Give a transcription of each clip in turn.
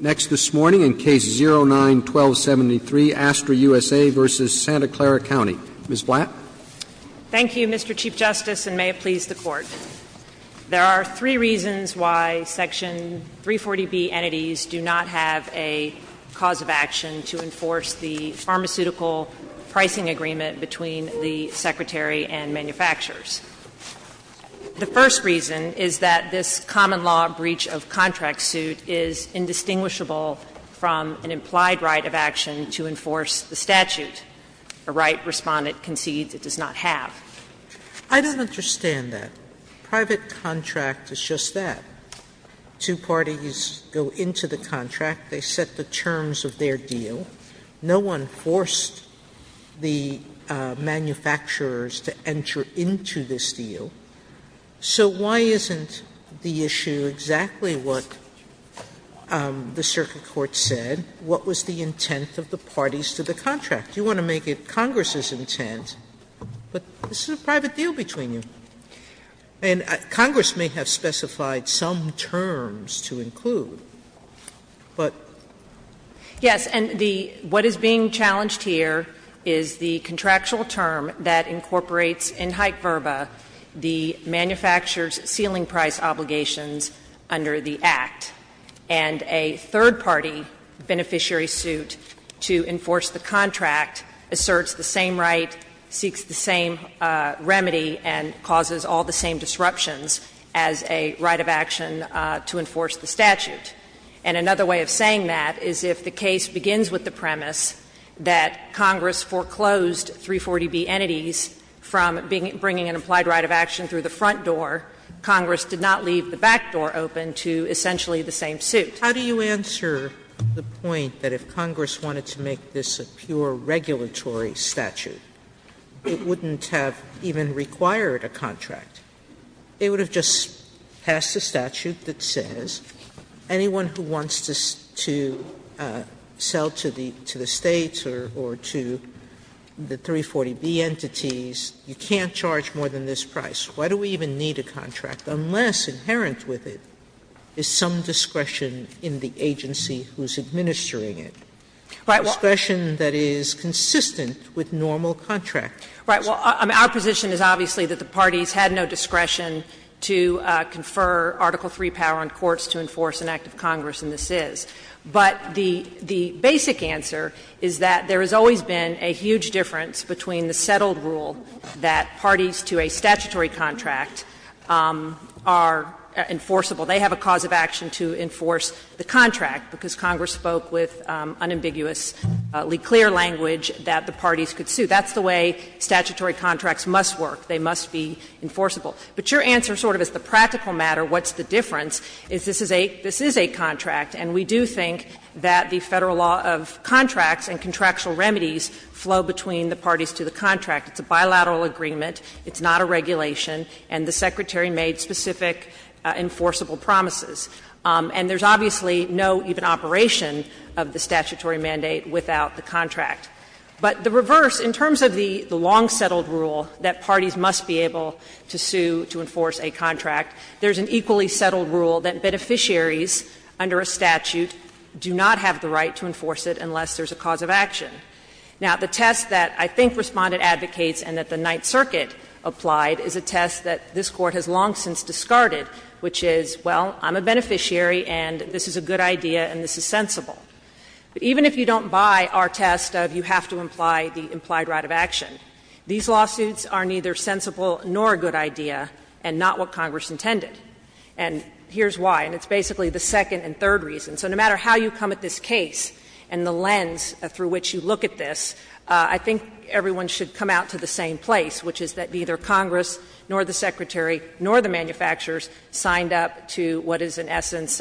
Ms. Blatt. Thank you, Mr. Chief Justice, and may it please the Court. There are three reasons why Section 340B entities do not have a cause of action to enforce the pharmaceutical pricing agreement between the Secretary and manufacturers. The first reason is that this common law breach of contract suit is indistinguishable from an implied right of action to enforce the statute. A right respondent concedes it does not have. I don't understand that. Private contract is just that. Two parties go into the contract. They set the terms of their deal. No one forced the manufacturers to enter into this deal. So why isn't the issue exactly what the circuit court said? What was the intent of the parties to the contract? You want to make it Congress's intent, but this is a private deal between you. And Congress may have specified some terms to include, but. Yes, and the what is being challenged here is the contractual term that incorporates in Hyke-Verba the manufacturer's ceiling price obligations under the Act. And a third-party beneficiary suit to enforce the contract asserts the same right, seeks the same remedy, and causes all the same disruptions as a right of action to enforce the statute. And another way of saying that is if the case begins with the premise that Congress foreclosed 340B entities from bringing an implied right of action through the front door, Congress did not leave the back door open to essentially the same suit. Sotomayor How do you answer the point that if Congress wanted to make this a pure regulatory statute, it wouldn't have even required a contract? It would have just passed a statute that says anyone who wants to sell to the States or to the 340B entities, you can't charge more than this price. Why do we even need a contract unless inherent with it is some discretion in the agency who is administering it? A discretion that is consistent with normal contract. Right. Well, our position is obviously that the parties had no discretion to confer Article III power on courts to enforce an act of Congress, and this is. But the basic answer is that there has always been a huge difference between the settled rule that parties to a statutory contract are enforceable. They have a cause of action to enforce the contract because Congress spoke with unambiguously clear language that the parties could sue. That's the way statutory contracts must work. They must be enforceable. But your answer sort of is the practical matter. What's the difference? Is this is a, this is a contract, and we do think that the Federal law of contracts and contractual remedies flow between the parties to the contract. It's a bilateral agreement. It's not a regulation. And the Secretary made specific enforceable promises. And there's obviously no even operation of the statutory mandate without the contract. But the reverse, in terms of the long-settled rule that parties must be able to sue to enforce a contract, there's an equally settled rule that beneficiaries under a statute do not have the right to enforce it unless there's a cause of action. Now, the test that I think Respondent advocates and that the Ninth Circuit applied is a test that this Court has long since discarded, which is, well, I'm a beneficiary and this is a good idea and this is sensible. But even if you don't buy our test of you have to imply the implied right of action, these lawsuits are neither sensible nor a good idea and not what Congress intended. And here's why, and it's basically the second and third reason. So no matter how you come at this case and the lens through which you look at this, I think everyone should come out to the same place, which is that neither Congress nor the Secretary nor the manufacturers signed up to what is, in essence,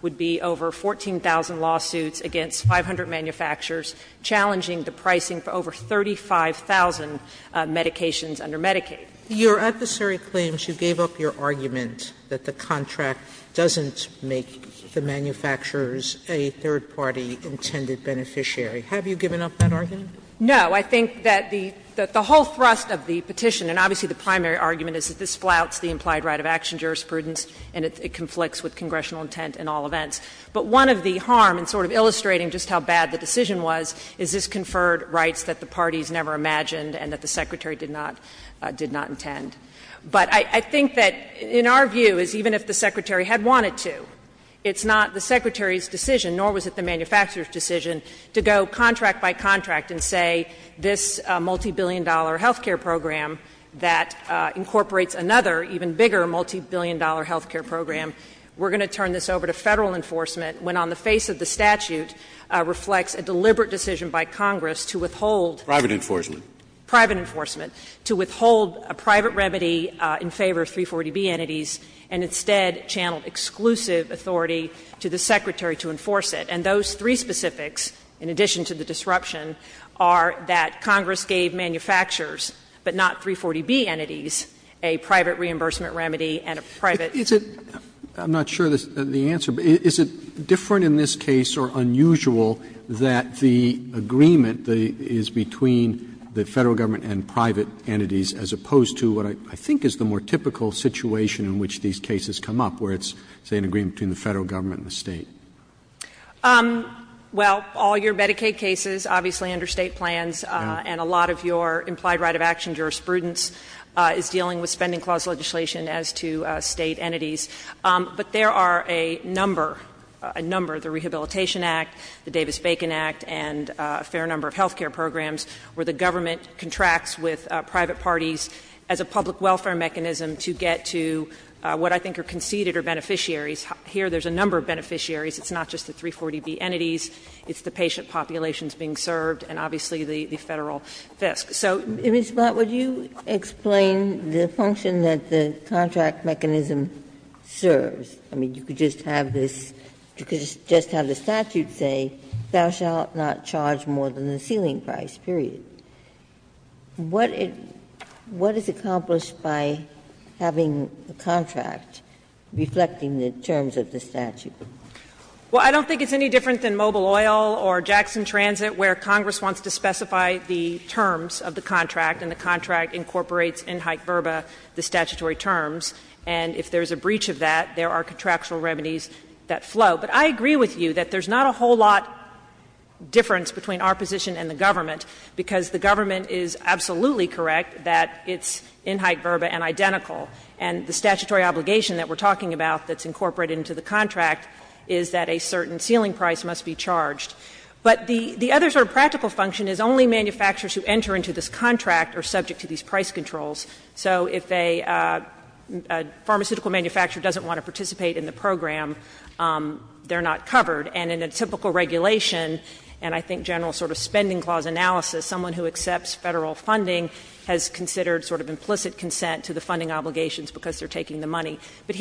would be over 14,000 lawsuits against 500 manufacturers, challenging the pricing for over 35,000 medications under Medicaid. Sotomayor, your adversary claims you gave up your argument that the contract doesn't make the manufacturers a third-party intended beneficiary. Have you given up that argument? No. I think that the whole thrust of the petition, and obviously the primary argument is that this flouts the implied right of action jurisprudence and it conflicts with congressional intent in all events. But one of the harm in sort of illustrating just how bad the decision was is this conferred rights that the parties never imagined and that the Secretary did not intend. But I think that, in our view, is even if the Secretary had wanted to, it's not the Secretary's decision, nor was it the manufacturer's decision, to go contract by contract and say this multibillion-dollar health care program that incorporates another, even bigger, multibillion-dollar health care program, we're going to turn this over to Federal enforcement, when on the face of the statute reflects a deliberate decision by Congress to withhold. Roberts, private enforcement. Private enforcement. To withhold a private remedy in favor of 340B entities and instead channel exclusive authority to the Secretary to enforce it. And those three specifics, in addition to the disruption, are that Congress gave manufacturers, but not 340B entities, a private reimbursement remedy and a private reimbursement remedy. Roberts, is it — I'm not sure the answer, but is it different in this case or unusual that the agreement is between the Federal government and private entities as opposed to what I think is the more typical situation in which these cases come up, where it's, say, an agreement between the Federal government and the State? Well, all your Medicaid cases, obviously under State plans, and a lot of your implied right-of-action jurisprudence is dealing with Spending Clause legislation as to State entities. But there are a number, a number, the Rehabilitation Act, the Davis-Bacon Act, and a fair number of health care programs where the government contracts with private parties as a public welfare mechanism to get to what I think are conceded are beneficiaries. Here there's a number of beneficiaries. It's not just the 340B entities. It's the patient populations being served and obviously the Federal FISC. So. Ginsburg, would you explain the function that the contract mechanism serves? I mean, you could just have this — you could just have the statute say, Thou shalt not charge more than the ceiling price, period. What is accomplished by having a contract reflecting the terms of the statute? Well, I don't think it's any different than Mobile Oil or Jackson Transit, where you have the terms of the contract and the contract incorporates in hike verba the statutory terms, and if there's a breach of that, there are contractual remedies that flow. But I agree with you that there's not a whole lot difference between our position and the government, because the government is absolutely correct that it's in hike verba and identical, and the statutory obligation that we're talking about that's But the other sort of practical function is only manufacturers who enter into this contract are subject to these price controls. So if a pharmaceutical manufacturer doesn't want to participate in the program, they're not covered. And in a typical regulation, and I think general sort of spending clause analysis, someone who accepts Federal funding has considered sort of implicit consent to the funding obligations because they're taking the money. And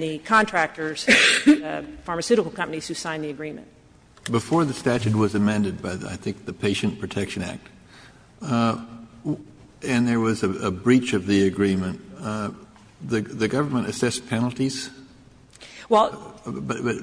the contractors, the pharmaceutical companies who signed the agreement. Kennedy, and there was a breach of the agreement, the government assessed penalties?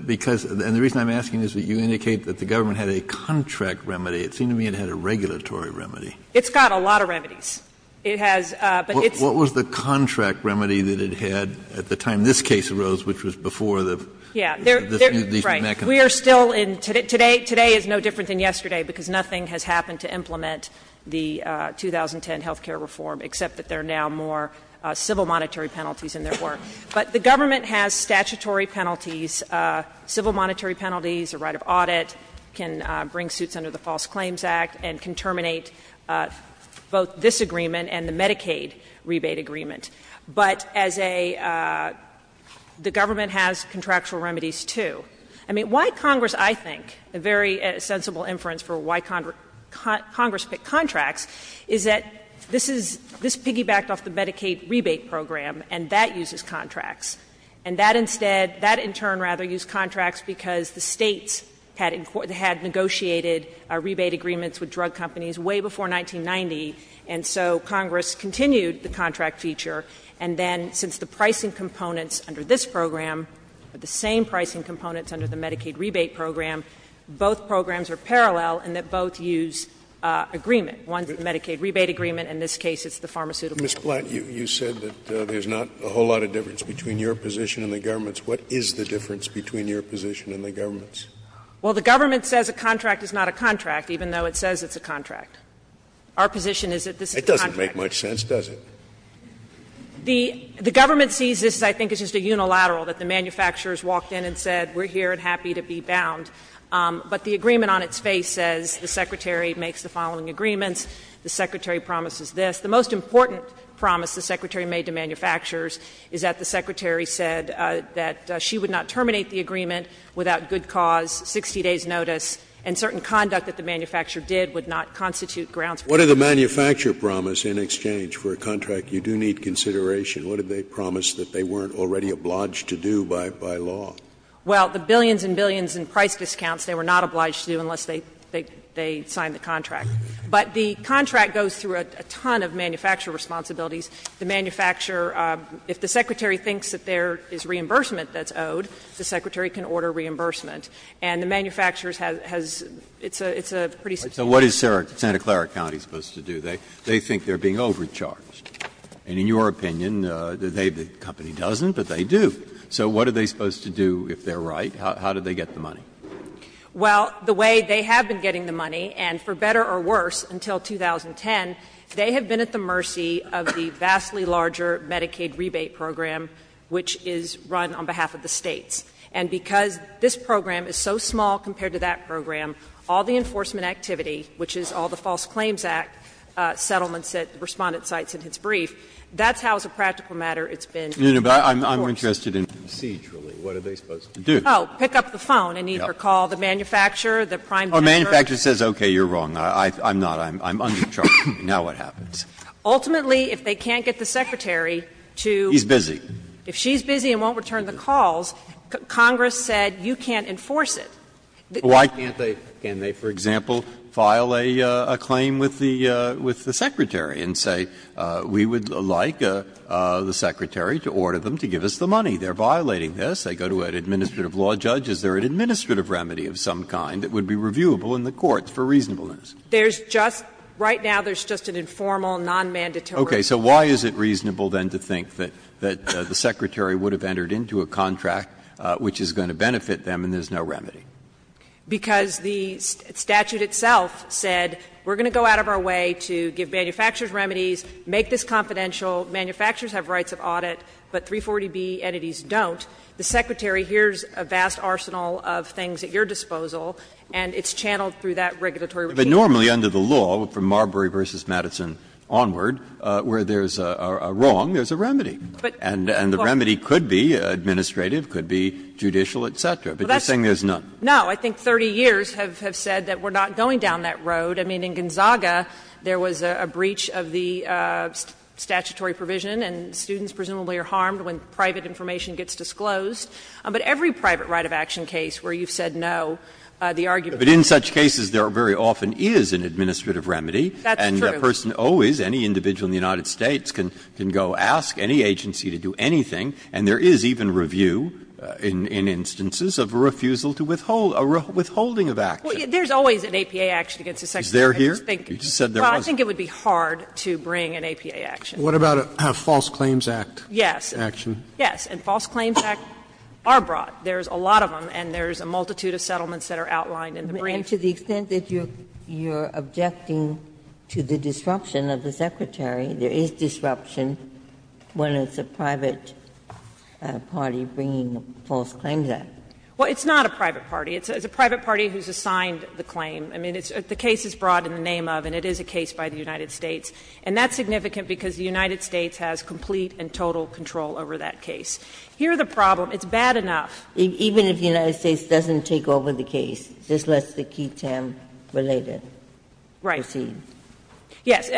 Because, and the reason I'm asking is that you indicate that the government had a contract remedy. It seemed to me it had a regulatory remedy. It's got a lot of remedies. It has, but it's. What was the contract remedy that it had at the time this case arose, which was before the mechanism? Yeah, right. We are still in, today is no different than yesterday, because nothing has happened to implement the 2010 health care reform, except that there are now more civil monetary penalties in there. But the government has statutory penalties, civil monetary penalties, a right of audit, can bring suits under the False Claims Act, and can terminate both this agreement and the Medicaid rebate agreement. But as a, the government has contractual remedies, too. I mean, why Congress, I think, a very sensible inference for why Congress picked contracts is that this is, this piggybacked off the Medicaid rebate program, and that uses contracts. And that instead, that in turn rather used contracts because the States had negotiated rebate agreements with drug companies way before 1990. And so Congress continued the contract feature, and then since the pricing components under this program are the same pricing components under the Medicaid rebate program, both programs are parallel and that both use agreement. One is the Medicaid rebate agreement, and in this case it's the pharmaceutical program. Mr. Blatt, you said that there's not a whole lot of difference between your position and the government's. What is the difference between your position and the government's? Well, the government says a contract is not a contract, even though it says it's a contract. Our position is that this is a contract. It doesn't make much sense, does it? The government sees this, I think, as just a unilateral, that the manufacturers walked in and said, we're here and happy to be bound. But the agreement on its face says the Secretary makes the following agreements, the Secretary promises this. The most important promise the Secretary made to manufacturers is that the Secretary said that she would not terminate the agreement without good cause, 60 days' notice, and certain conduct that the manufacturer did would not constitute grounds for termination. Scalia, what did the manufacturer promise in exchange for a contract? You do need consideration. What did they promise that they weren't already obliged to do by law? Well, the billions and billions in price discounts, they were not obliged to do unless they signed the contract. But the contract goes through a ton of manufacturer responsibilities. The manufacturer, if the Secretary thinks that there is reimbursement that's owed, the Secretary can order reimbursement. And the manufacturers has – it's a pretty substantial amount. So what is Santa Clara County supposed to do? They think they're being overcharged. And in your opinion, the company doesn't, but they do. So what are they supposed to do if they're right? How do they get the money? Well, the way they have been getting the money, and for better or worse, until 2010, they have been at the mercy of the vastly larger Medicaid rebate program, which is run on behalf of the States. And because this program is so small compared to that program, all the enforcement activity, which is all the False Claims Act settlements that Respondent cites in his brief, that's how, as a practical matter, it's been enforced. No, no, but I'm interested in procedurally, what are they supposed to do? Oh, pick up the phone and either call the manufacturer, the prime deliverer. Oh, the manufacturer says, okay, you're wrong, I'm not, I'm undercharged, now what happens? Ultimately, if they can't get the Secretary to – He's busy. If she's busy and won't return the calls, Congress said you can't enforce it. Why can't they, for example, file a claim with the Secretary and say, we would like the Secretary to order them to give us the money? They're violating this. They go to an administrative law judge. Is there an administrative remedy of some kind that would be reviewable in the courts for reasonableness? There's just – right now, there's just an informal, non-mandatory. Okay. So why is it reasonable, then, to think that the Secretary would have entered into a contract which is going to benefit them and there's no remedy? Because the statute itself said, we're going to go out of our way to give manufacturers remedies, make this confidential, manufacturers have rights of audit, but 340B entities don't. The Secretary hears a vast arsenal of things at your disposal and it's channeled through that regulatory regime. But normally under the law, from Marbury v. Madison onward, where there's a wrong, there's a remedy. And the remedy could be administrative, could be judicial, et cetera. But you're saying there's none. No. I think 30 years have said that we're not going down that road. I mean, in Gonzaga, there was a breach of the statutory provision and students presumably are harmed when private information gets disclosed. But there very often is an administrative remedy. That's true. And a person always, any individual in the United States can go ask any agency to do anything. And there is even review in instances of refusal to withhold, a withholding of action. There's always an APA action against the Secretary. Is there here? You just said there was. Well, I think it would be hard to bring an APA action. What about a False Claims Act action? Yes. And False Claims Act are brought. There's a lot of them and there's a multitude of settlements that are outlined in the brief. And to the extent that you're objecting to the disruption of the Secretary, there is disruption when it's a private party bringing a False Claims Act. Well, it's not a private party. It's a private party who's assigned the claim. I mean, the case is brought in the name of and it is a case by the United States. And that's significant because the United States has complete and total control over that case. Here the problem, it's bad enough. Even if the United States doesn't take over the case, this lets the Q-10-related proceed. Right. Yes,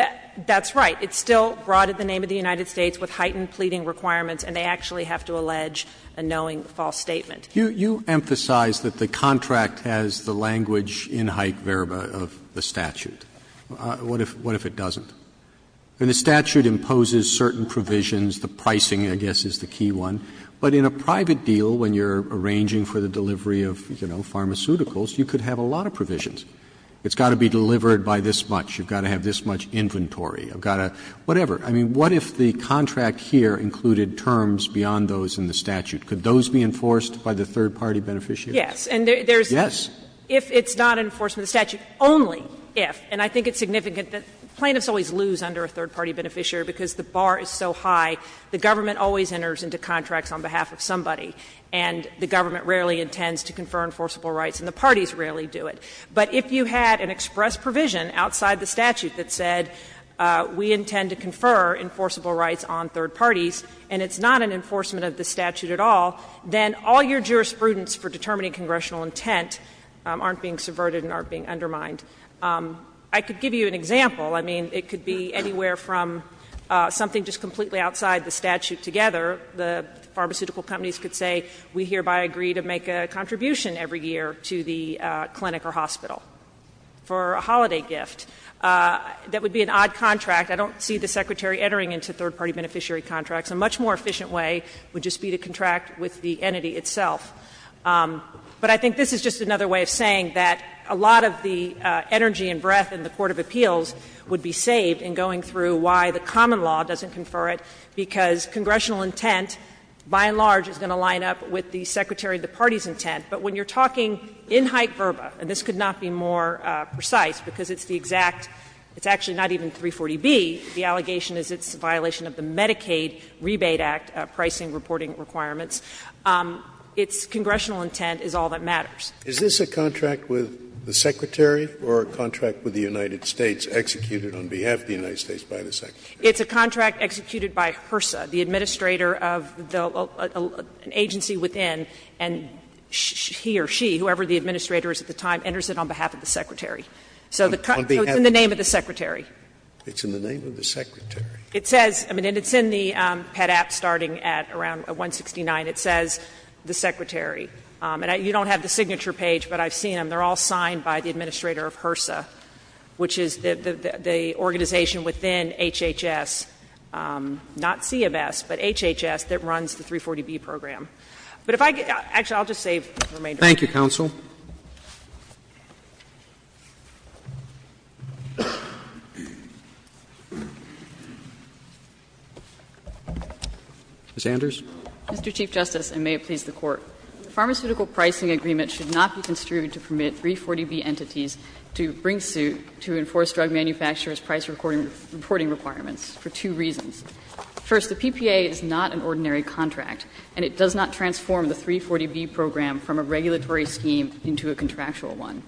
that's right. It's still brought in the name of the United States with heightened pleading requirements and they actually have to allege a knowing false statement. You emphasize that the contract has the language in high verba of the statute. What if it doesn't? The statute imposes certain provisions. The pricing, I guess, is the key one. But in a private deal, when you're arranging for the delivery of, you know, pharmaceuticals, you could have a lot of provisions. It's got to be delivered by this much. You've got to have this much inventory. You've got to do whatever. I mean, what if the contract here included terms beyond those in the statute? Could those be enforced by the third party beneficiary? Yes. And there's. Yes. If it's not in enforcement of the statute, only if, and I think it's significant that plaintiffs always lose under a third party beneficiary because the bar is so high. The government always enters into contracts on behalf of somebody and the government rarely intends to confer enforceable rights and the parties rarely do it. But if you had an express provision outside the statute that said we intend to confer enforceable rights on third parties and it's not in enforcement of the statute at all, then all your jurisprudence for determining congressional intent aren't being subverted and aren't being undermined. I could give you an example. I mean, it could be anywhere from something just completely outside the statute together. The pharmaceutical companies could say we hereby agree to make a contribution every year to the clinic or hospital for a holiday gift. That would be an odd contract. I don't see the Secretary entering into third party beneficiary contracts. A much more efficient way would just be to contract with the entity itself. But I think this is just another way of saying that a lot of the energy and breadth in the court of appeals would be saved in going through why the common law doesn't confer it, because congressional intent by and large is going to line up with the Secretary of the Party's intent. But when you're talking in hype verba, and this could not be more precise because it's the exact – it's actually not even 340B, the allegation is it's a violation of the Medicaid Rebate Act pricing reporting requirements, its congressional intent is all that matters. Scalia. Is this a contract with the Secretary or a contract with the United States executed on behalf of the United States by the Secretary? It's a contract executed by HRSA, the administrator of an agency within, and he or she, whoever the administrator is at the time, enters it on behalf of the Secretary. So the contract is in the name of the Secretary. It's in the name of the Secretary. It says – I mean, it's in the PEDAP starting at around 169. It says the Secretary. And you don't have the signature page, but I've seen them. They're all signed by the administrator of HRSA, which is the organization within HHS, not CMS, but HHS, that runs the 340B program. But if I could – actually, I'll just save the remainder. Thank you, counsel. Ms. Anders. Mr. Chief Justice, and may it please the Court. The Pharmaceutical Pricing Agreement should not be construed to permit 340B entities to bring suit to enforce drug manufacturers' price reporting requirements for two reasons. First, the PPA is not an ordinary contract, and it does not transform the 340B program from a regulatory scheme into a contractual one.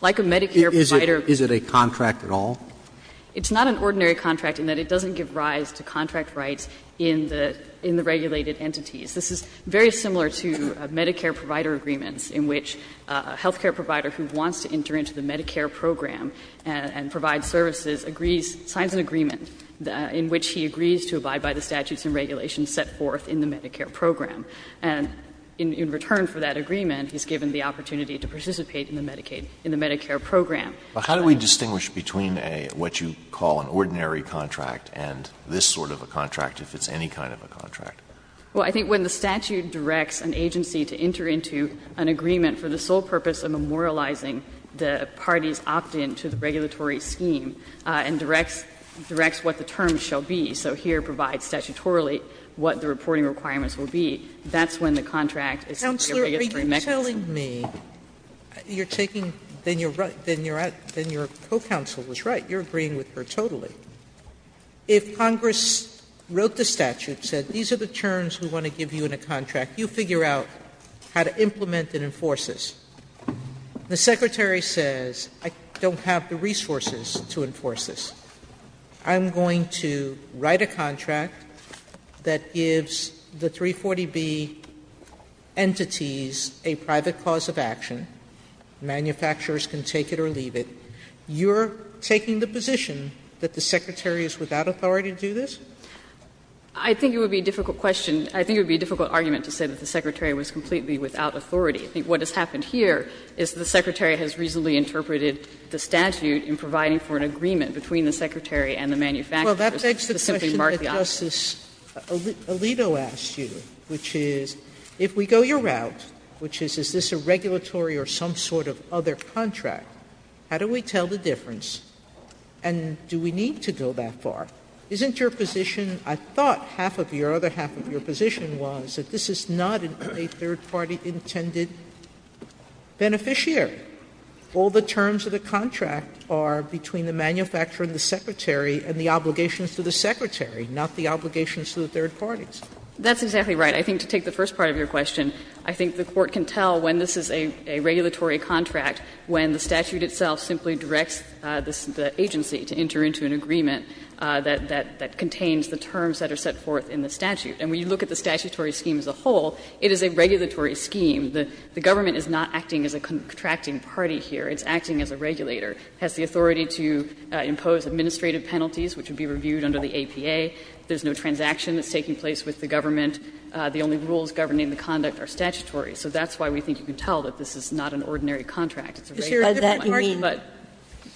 Like a Medicare provider. Is it a contract at all? It's not an ordinary contract in that it doesn't give rise to contract rights in the regulated entities. This is very similar to Medicare provider agreements in which a health care provider who wants to enter into the Medicare program and provide services agrees, signs an agreement in which he agrees to abide by the statutes and regulations set forth in the Medicare program. And in return for that agreement, he's given the opportunity to participate in the Medicaid – in the Medicare program. But how do we distinguish between a – what you call an ordinary contract and this sort of a contract, if it's any kind of a contract? Well, I think when the statute directs an agency to enter into an agreement for the sole purpose of memorializing the party's opt-in to the regulatory scheme and directs what the terms shall be, so here provides statutorily what the reporting requirements will be, that's when the contract is a regulatory mechanism. Sotomayor, are you telling me you're taking – then you're right, then your co-counsel was right, you're agreeing with her totally. If Congress wrote the statute, said these are the terms we want to give you in a contract, you figure out how to implement and enforce this. The Secretary says, I don't have the resources to enforce this. I'm going to write a contract that gives the 340B entities a private cause of action. Manufacturers can take it or leave it. You're taking the position that the Secretary is without authority to do this? I think it would be a difficult question. I think it would be a difficult argument to say that the Secretary was completely without authority. I think what has happened here is the Secretary has reasonably interpreted the statute in providing for an agreement between the Secretary and the manufacturers to simply mark the option. Well, that begs the question that Justice Alito asked you, which is, if we go your route, which is, is this a regulatory or some sort of other contract, how do we get to the point where we can tell the difference, and do we need to go that far? Isn't your position, I thought half of your other half of your position was that this is not a third-party intended beneficiary? All the terms of the contract are between the manufacturer and the Secretary and the obligations to the Secretary, not the obligations to the third parties. That's exactly right. I think to take the first part of your question, I think the Court can tell when this is a regulatory contract, when the statute itself simply directs the agency to enter into an agreement that contains the terms that are set forth in the statute. And when you look at the statutory scheme as a whole, it is a regulatory scheme. The government is not acting as a contracting party here. It's acting as a regulator. It has the authority to impose administrative penalties, which would be reviewed under the APA. There's no transaction that's taking place with the government. The only rules governing the conduct are statutory. So that's why we think you can tell that this is not an ordinary contract. It's a regulatory contract, but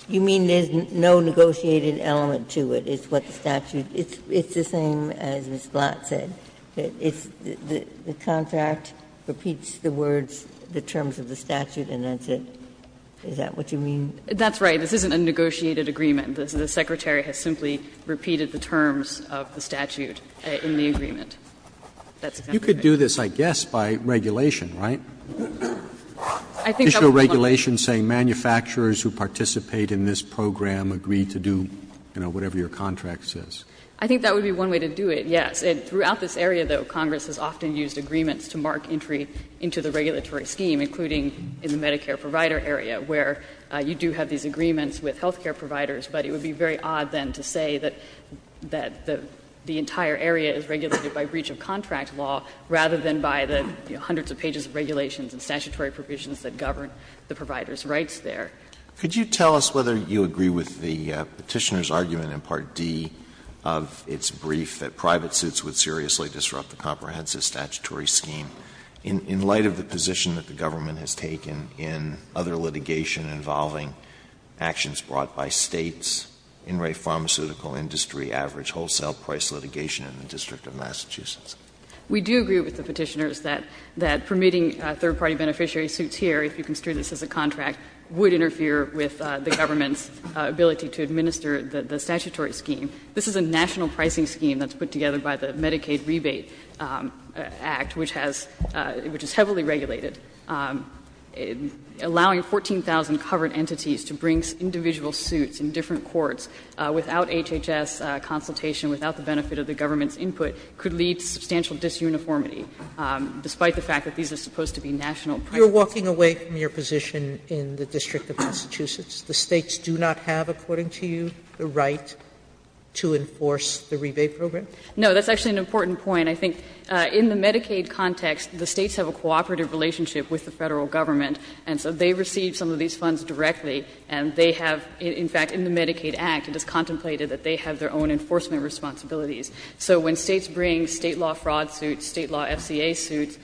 you mean there's no negotiated element to it. It's what the statute – it's the same as Ms. Blatt said. It's the contract repeats the words, the terms of the statute, and that's it. Is that what you mean? That's right. This isn't a negotiated agreement. The Secretary has simply repeated the terms of the statute in the agreement. That's exactly right. Roberts, you could do this, I guess, by regulation, right? I think that would be one way. Just your regulation saying manufacturers who participate in this program agree to do, you know, whatever your contract says. I think that would be one way to do it, yes. And throughout this area, though, Congress has often used agreements to mark entry into the regulatory scheme, including in the Medicare provider area, where you do have these agreements with health care providers. But it would be very odd, then, to say that the entire area is regulated by breach of contract law, rather than by the hundreds of pages of regulations and statutory provisions that govern the provider's rights there. Could you tell us whether you agree with the Petitioner's argument in Part D of its brief that private suits would seriously disrupt the comprehensive statutory scheme, in light of the position that the government has taken in other litigation involving actions brought by States, in-rate pharmaceutical industry, average wholesale price litigation in the District of Massachusetts? We do agree with the Petitioner's that permitting third-party beneficiary suits here, if you construe this as a contract, would interfere with the government's ability to administer the statutory scheme. This is a national pricing scheme that's put together by the Medicaid Rebate Act, which has — which is heavily regulated, allowing 14,000 covered entities to bring in individual suits in different courts without HHS consultation, without the benefit of the government's input, could lead to substantial disuniformity, despite the fact that these are supposed to be national pricing. Sotomayor, you're walking away from your position in the District of Massachusetts. The States do not have, according to you, the right to enforce the rebate program? No, that's actually an important point. I think in the Medicaid context, the States have a cooperative relationship with the Federal government, and so they receive some of these funds directly, and they have — in fact, in the Medicaid Act, it is contemplated that they have their own enforcement responsibilities. So when States bring State law fraud suits, State law FCA suits,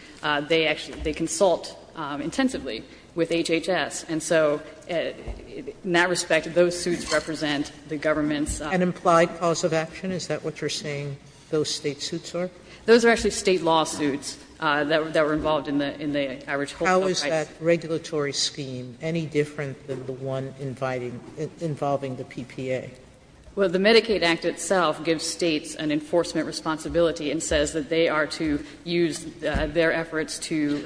they actually — they consult intensively with HHS. And so in that respect, those suits represent the government's — An implied cause of action? Is that what you're saying those State suits are? Those are actually State lawsuits that were involved in the — in the average wholesale price. Sotomayor, is that regulatory scheme any different than the one inviting — involving the PPA? Well, the Medicaid Act itself gives States an enforcement responsibility and says that they are to use their efforts to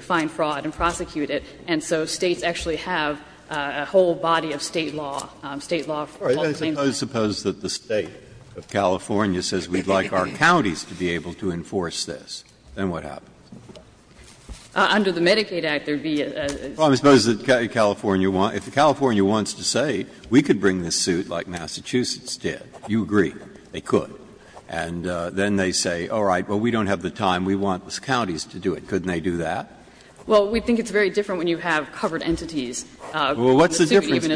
find fraud and prosecute it. And so States actually have a whole body of State law, State law fraud claims. Suppose that the State of California says we'd like our counties to be able to enforce this. Then what happens? Under the Medicaid Act, there would be a suit. Well, I suppose the California — if the California wants to say we could bring this suit like Massachusetts did, you agree, they could. And then they say, all right, well, we don't have the time. We want the counties to do it. Couldn't they do that? Well, we think it's very different when you have covered entities. Well, what's the difference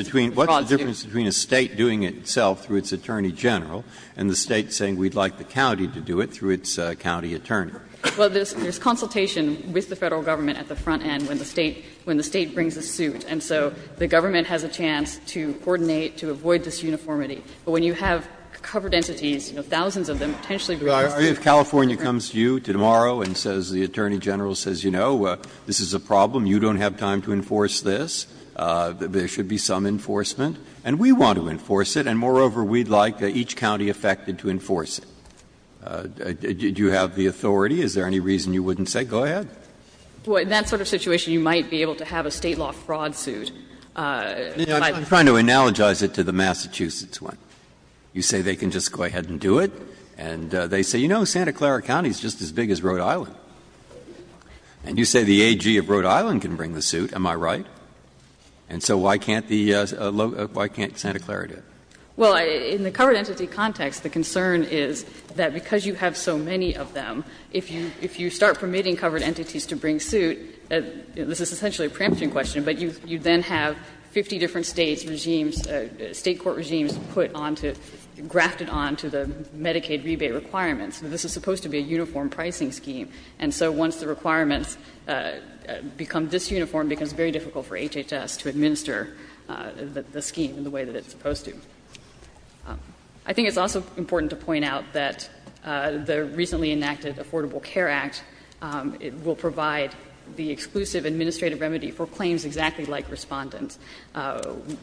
between a State doing it itself through its attorney general and the State saying we'd like the county to do it through its county attorney? Well, there's consultation with the Federal Government at the front end when the State brings a suit. And so the Government has a chance to coordinate, to avoid disuniformity. But when you have covered entities, you know, thousands of them potentially bringing a suit. Well, if California comes to you tomorrow and says, the attorney general says, you know, this is a problem, you don't have time to enforce this, there should be some enforcement, and we want to enforce it, and moreover, we'd like each county affected to enforce it, do you have the authority to enforce it? Is there any reason you wouldn't say, go ahead? Well, in that sort of situation, you might be able to have a State law fraud suit. I'm trying to analogize it to the Massachusetts one. You say they can just go ahead and do it, and they say, you know, Santa Clara County is just as big as Rhode Island. And you say the AG of Rhode Island can bring the suit. Am I right? And so why can't the low ‑‑ why can't Santa Clara do it? Well, in the covered entity context, the concern is that because you have so many of them, if you start permitting covered entities to bring suit, this is essentially a preemption question, but you then have 50 different States regimes, State court regimes put on to ‑‑ grafted on to the Medicaid rebate requirements. This is supposed to be a uniform pricing scheme. And so once the requirements become disuniform, it becomes very difficult for HHS to administer the scheme in the way that it's supposed to. I think it's also important to point out that the recently enacted Affordable Care Act will provide the exclusive administrative remedy for claims exactly like Respondent,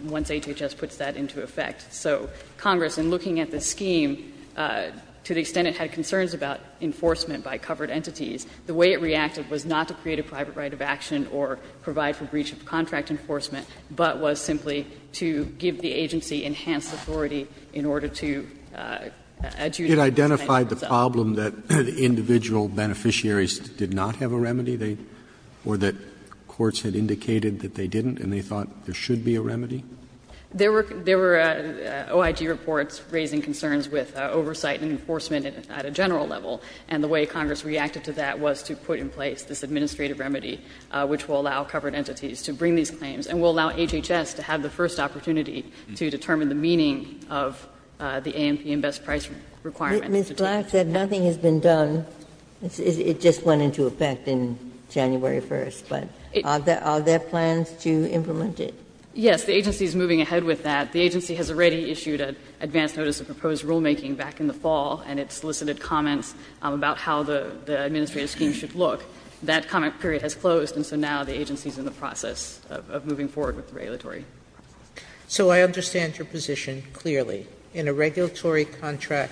once HHS puts that into effect. So Congress, in looking at the scheme, to the extent it had concerns about enforcement by covered entities, the way it reacted was not to create a private right of action or provide for breach of contract enforcement, but was simply to give the agency enhanced authority in order to adjudicate the claim for itself. Roberts. Roberts. It identified the problem that individual beneficiaries did not have a remedy, or that courts had indicated that they didn't and they thought there should be a remedy? There were ‑‑ there were OIG reports raising concerns with oversight and enforcement at a general level, and the way Congress reacted to that was to put in place this administrative remedy, which will allow covered entities to bring these claims and will allow HHS to have the first opportunity to determine the meaning of the AMP and best price requirement. Ginsburg. Ms. Black said nothing has been done. It just went into effect on January 1st. But are there plans to implement it? Yes. The agency is moving ahead with that. The agency has already issued an advance notice of proposed rulemaking back in the fall, and it solicited comments about how the administrative scheme should look. That comment period has closed, and so now the agency is in the process of moving forward with the regulatory process. Sotomayor. So I understand your position clearly. In a regulatory contract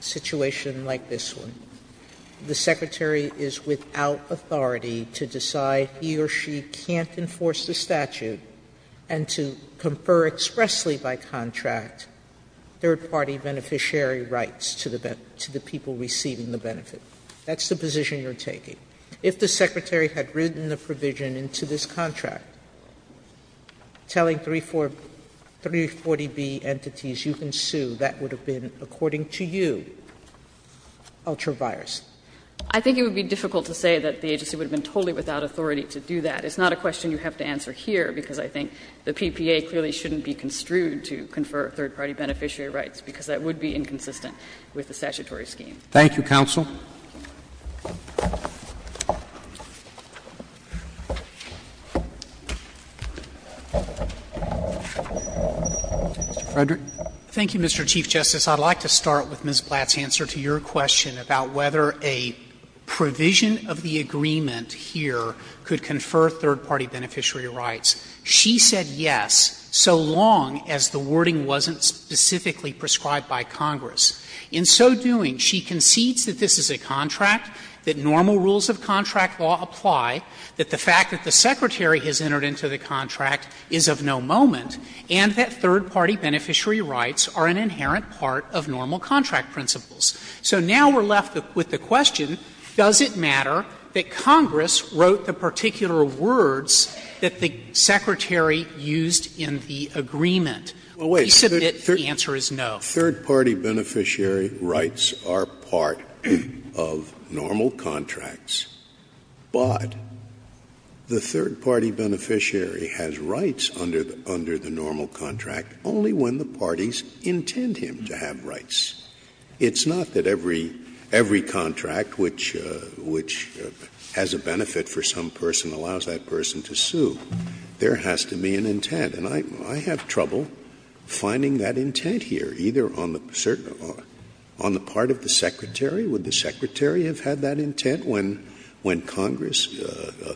situation like this one, the Secretary is without authority to decide he or she can't enforce the statute and to confer expressly by contract third-party beneficiary rights to the people receiving the benefit. That's the position you're taking. If the Secretary had written the provision into this contract telling 340B entities you can sue, that would have been, according to you, ultra-virus. I think it would be difficult to say that the agency would have been totally without authority to do that. It's not a question you have to answer here, because I think the PPA clearly shouldn't be construed to confer third-party beneficiary rights, because that would be inconsistent with the statutory scheme. Thank you, counsel. Mr. Frederick. Thank you, Mr. Chief Justice. I'd like to start with Ms. Blatt's answer to your question about whether a provision of the agreement here could confer third-party beneficiary rights. She said yes, so long as the wording wasn't specifically prescribed by Congress. In so doing, she concedes that this is a contract, that normal rules of contract law apply, that the fact that the Secretary has entered into the contract is of no moment, and that third-party beneficiary rights are an inherent part of normal contract principles. So now we're left with the question, does it matter that Congress wrote the particular words that the Secretary used in the agreement? Please submit the answer is no. Third-party beneficiary rights are part of normal contracts, but the third-party beneficiary has rights under the normal contract only when the parties intend him to have rights. It's not that every contract which has a benefit for some person allows that person There has to be an intent. And I have trouble finding that intent here, either on the part of the Secretary or would the Secretary have had that intent when Congress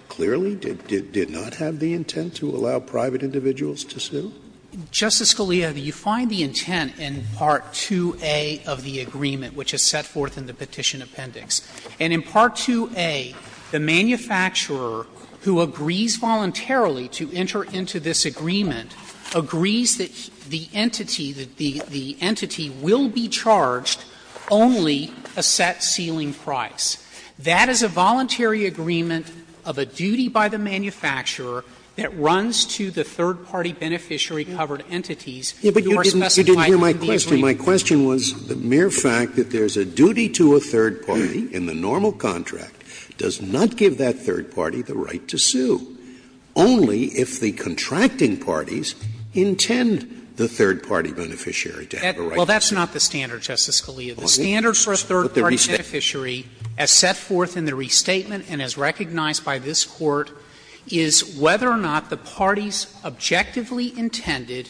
clearly did not have the intent to allow private individuals to sue? Justice Scalia, you find the intent in Part 2A of the agreement, which is set forth in the Petition Appendix. And in Part 2A, the manufacturer who agrees voluntarily to enter into this agreement agrees that the entity, that the entity will be charged only a set ceiling price. That is a voluntary agreement of a duty by the manufacturer that runs to the third-party beneficiary-covered entities who are specified in the agreement. Scalia, but you didn't hear my question. My question was the mere fact that there's a duty to a third party in the normal contract does not give that third party the right to sue, only if the contracting parties intend the third-party beneficiary to have a right to sue. Well, that's not the standard, Justice Scalia. The standard for a third-party beneficiary, as set forth in the restatement and as recognized by this Court, is whether or not the parties objectively intended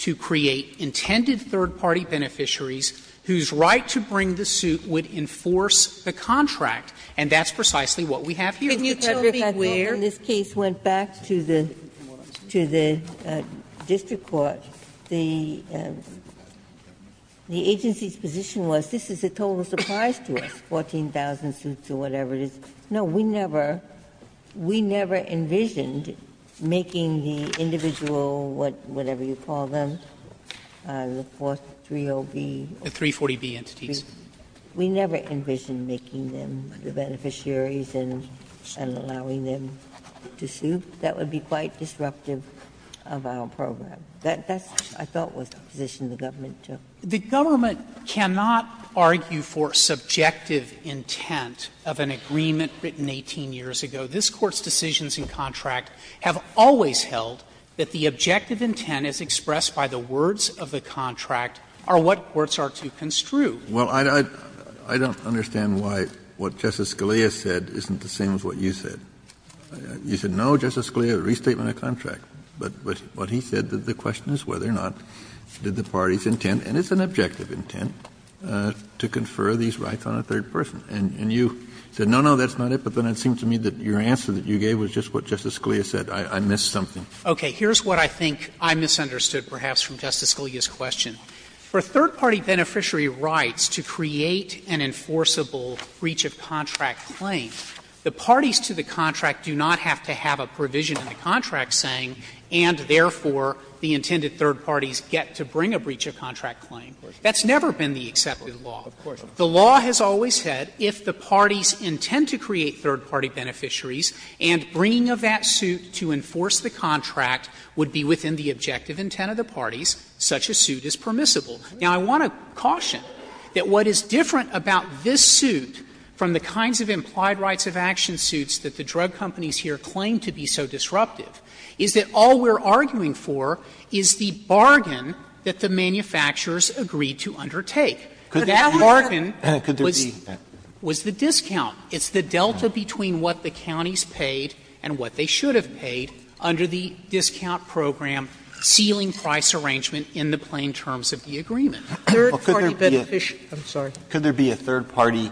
to create intended third-party beneficiaries whose right to bring the suit would enforce the contract. And that's precisely what we have here. Ginsburg, in this case, went back to the district court. The agency's position was, this is a total surprise to us, 14,000 suits or whatever it is. No, we never, we never envisioned making the individual, whatever you call them, the 3OB. The 340B entities. We never envisioned making them the beneficiaries and allowing them to sue. That would be quite disruptive of our program. That's, I thought, was the position the government took. The government cannot argue for subjective intent of an agreement written 18 years ago. This Court's decisions in contract have always held that the objective intent as expressed by the words of the contract are what courts are to construe. Kennedy, I don't understand why what Justice Scalia said isn't the same as what you said. You said, no, Justice Scalia, restatement of contract. But what he said, the question is whether or not did the parties intend, and it's an objective intent, to confer these rights on a third person. And you said, no, no, that's not it. But then it seemed to me that your answer that you gave was just what Justice Scalia said. I missed something. Okay. Here's what I think I misunderstood, perhaps, from Justice Scalia's question. For third-party beneficiary rights to create an enforceable breach of contract claim, the parties to the contract do not have to have a provision in the contract saying, and therefore, the intended third parties get to bring a breach of contract claim. That's never been the accepted law. The law has always said if the parties intend to create third-party beneficiaries and bringing of that suit to enforce the contract would be within the objective intent of the parties, such a suit is permissible. Now, I want to caution that what is different about this suit from the kinds of implied rights of action suits that the drug companies here claim to be so disruptive is that all we're arguing for is the bargain that the manufacturers agreed to undertake. That bargain was the discount. It's the delta between what the counties paid and what they should have paid under the discount program sealing price arrangement in the plain terms of the agreement. Third-party beneficiary rights. Alito, I'm sorry. Alito, could there be a third-party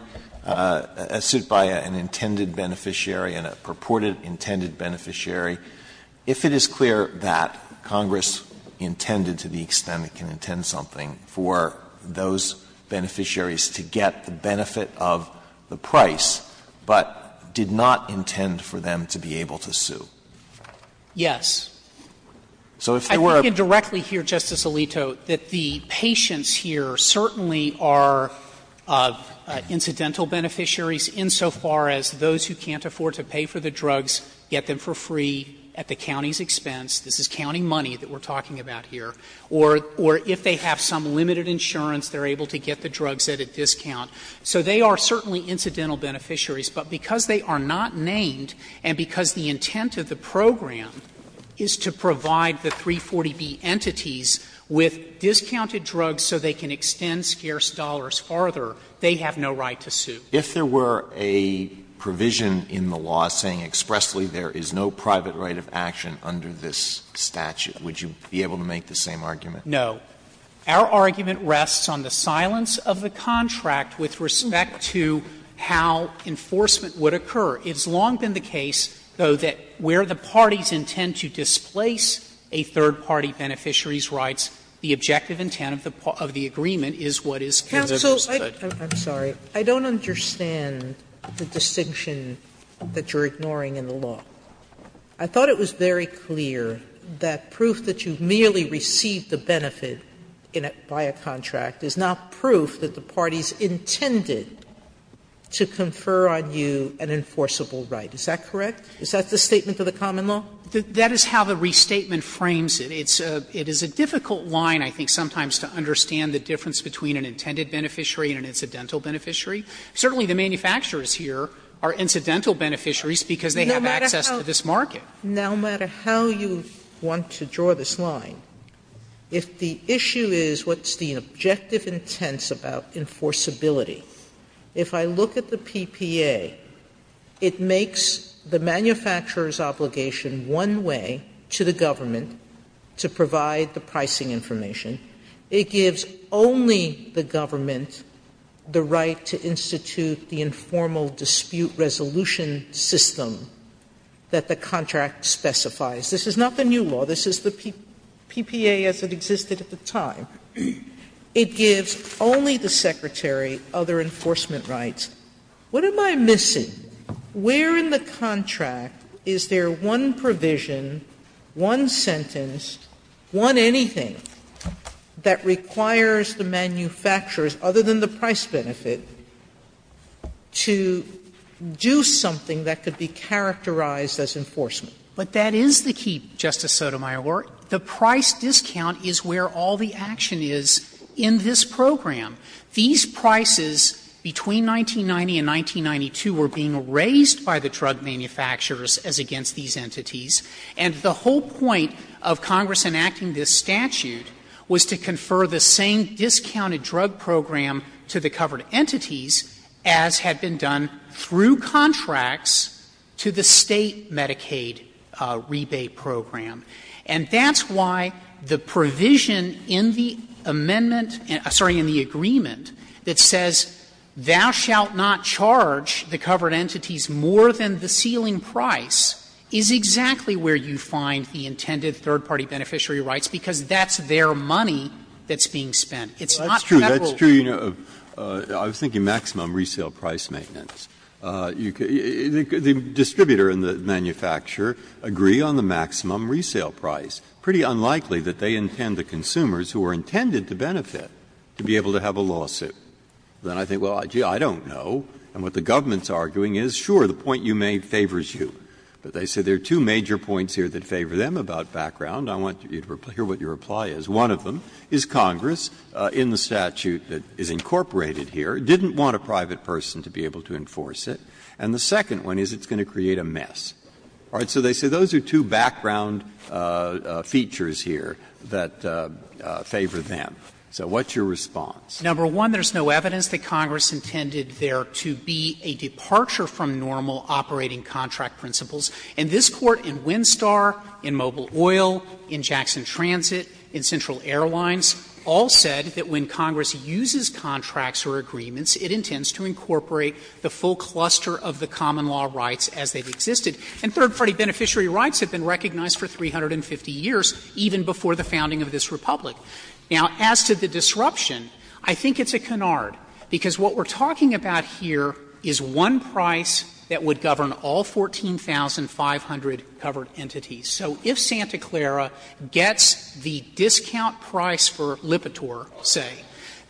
suit by an intended beneficiary, and a purported intended beneficiary, if it is clear that Congress intended to the extent it can intend something for those beneficiaries to get the benefit of the price, but did not intend for them to be able to sue? Yes. I think indirectly here, Justice Alito, that the patients here certainly are incidental beneficiaries insofar as those who can't afford to pay for the drugs, get them for free at the county's expense. This is county money that we're talking about here. Or if they have some limited insurance, they're able to get the drugs at a discount. So they are certainly incidental beneficiaries. But because they are not named, and because the intent of the program is to provide the 340B entities with discounted drugs so they can extend scarce dollars farther, they have no right to sue. If there were a provision in the law saying expressly there is no private right of action under this statute, would you be able to make the same argument? No. Our argument rests on the silence of the contract with respect to how enforcement would occur. It's long been the case, though, that where the parties intend to displace a third party beneficiary's rights, the objective intent of the agreement is what is considered understood. Sotomayor, I'm sorry. I don't understand the distinction that you're ignoring in the law. I thought it was very clear that proof that you merely received the benefit by a contract is not proof that the parties intended to confer on you an enforceable right. Is that correct? Is that the statement of the common law? That is how the restatement frames it. It is a difficult line, I think, sometimes, to understand the difference between an intended beneficiary and an incidental beneficiary. Certainly the manufacturers here are incidental beneficiaries because they have access to this market. Sotomayor, no matter how you want to draw this line, if the issue is what's the objective intent about enforceability, if I look at the PPA, it makes the manufacturer's obligation one way to the government to provide the pricing information. It gives only the government the right to institute the informal dispute resolution system that the contract specifies. This is not the new law. This is the PPA as it existed at the time. It gives only the Secretary other enforcement rights. What am I missing? Where in the contract is there one provision, one sentence, one anything that requires the manufacturers, other than the price benefit, to do something that could be characterized as enforcement? But that is the key, Justice Sotomayor. The price discount is where all the action is in this program. These prices between 1990 and 1992 were being raised by the drug manufacturers as against these entities. And the whole point of Congress enacting this statute was to confer the same discounted drug program to the covered entities as had been done through contracts to the State Medicaid rebate program. And that's why the provision in the amendment — sorry, in the agreement that says thou shalt not charge the covered entities more than the ceiling price is exactly where you find the intended third-party beneficiary rights, because that's their money that's being spent. It's not Federal. Breyer. Breyer. I was thinking maximum resale price maintenance. The distributor and the manufacturer agree on the maximum resale price. Pretty unlikely that they intend the consumers who are intended to benefit to be able to have a lawsuit. Then I think, well, gee, I don't know. And what the government is arguing is, sure, the point you made favors you. But they say there are two major points here that favor them about background. I want you to hear what your reply is. One of them is Congress, in the statute that is incorporated here, didn't want a private person to be able to enforce it. And the second one is it's going to create a mess. All right. So they say those are two background features here that favor them. So what's your response? Number one, there's no evidence that Congress intended there to be a departure from normal operating contract principles. And this Court in Winstar, in Mobile Oil, in Jackson Transit, in Central Airlines all said that when Congress uses contracts or agreements, it intends to incorporate the full cluster of the common law rights as they've existed. And third-party beneficiary rights have been recognized for 350 years, even before the founding of this Republic. Now, as to the disruption, I think it's a canard, because what we're talking about here is one price that would govern all 14,500 covered entities. So if Santa Clara gets the discount price for Lipitor, say,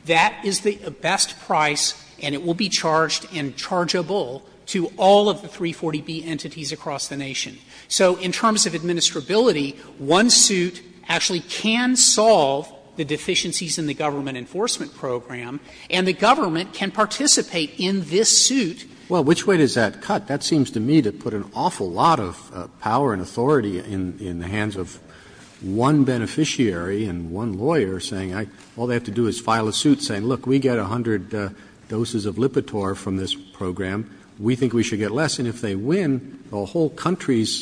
that is the best price, and it will be charged and chargeable to all of the 340B entities across the nation. So in terms of administrability, one suit actually can solve the deficiencies in the government enforcement program, and the government can participate in this suit. Well, which way does that cut? That seems to me to put an awful lot of power and authority in the hands of one beneficiary and one lawyer, saying all they have to do is file a suit saying, look, we get 100 doses of Lipitor from this program, we think we should get less, and if they win, the whole country's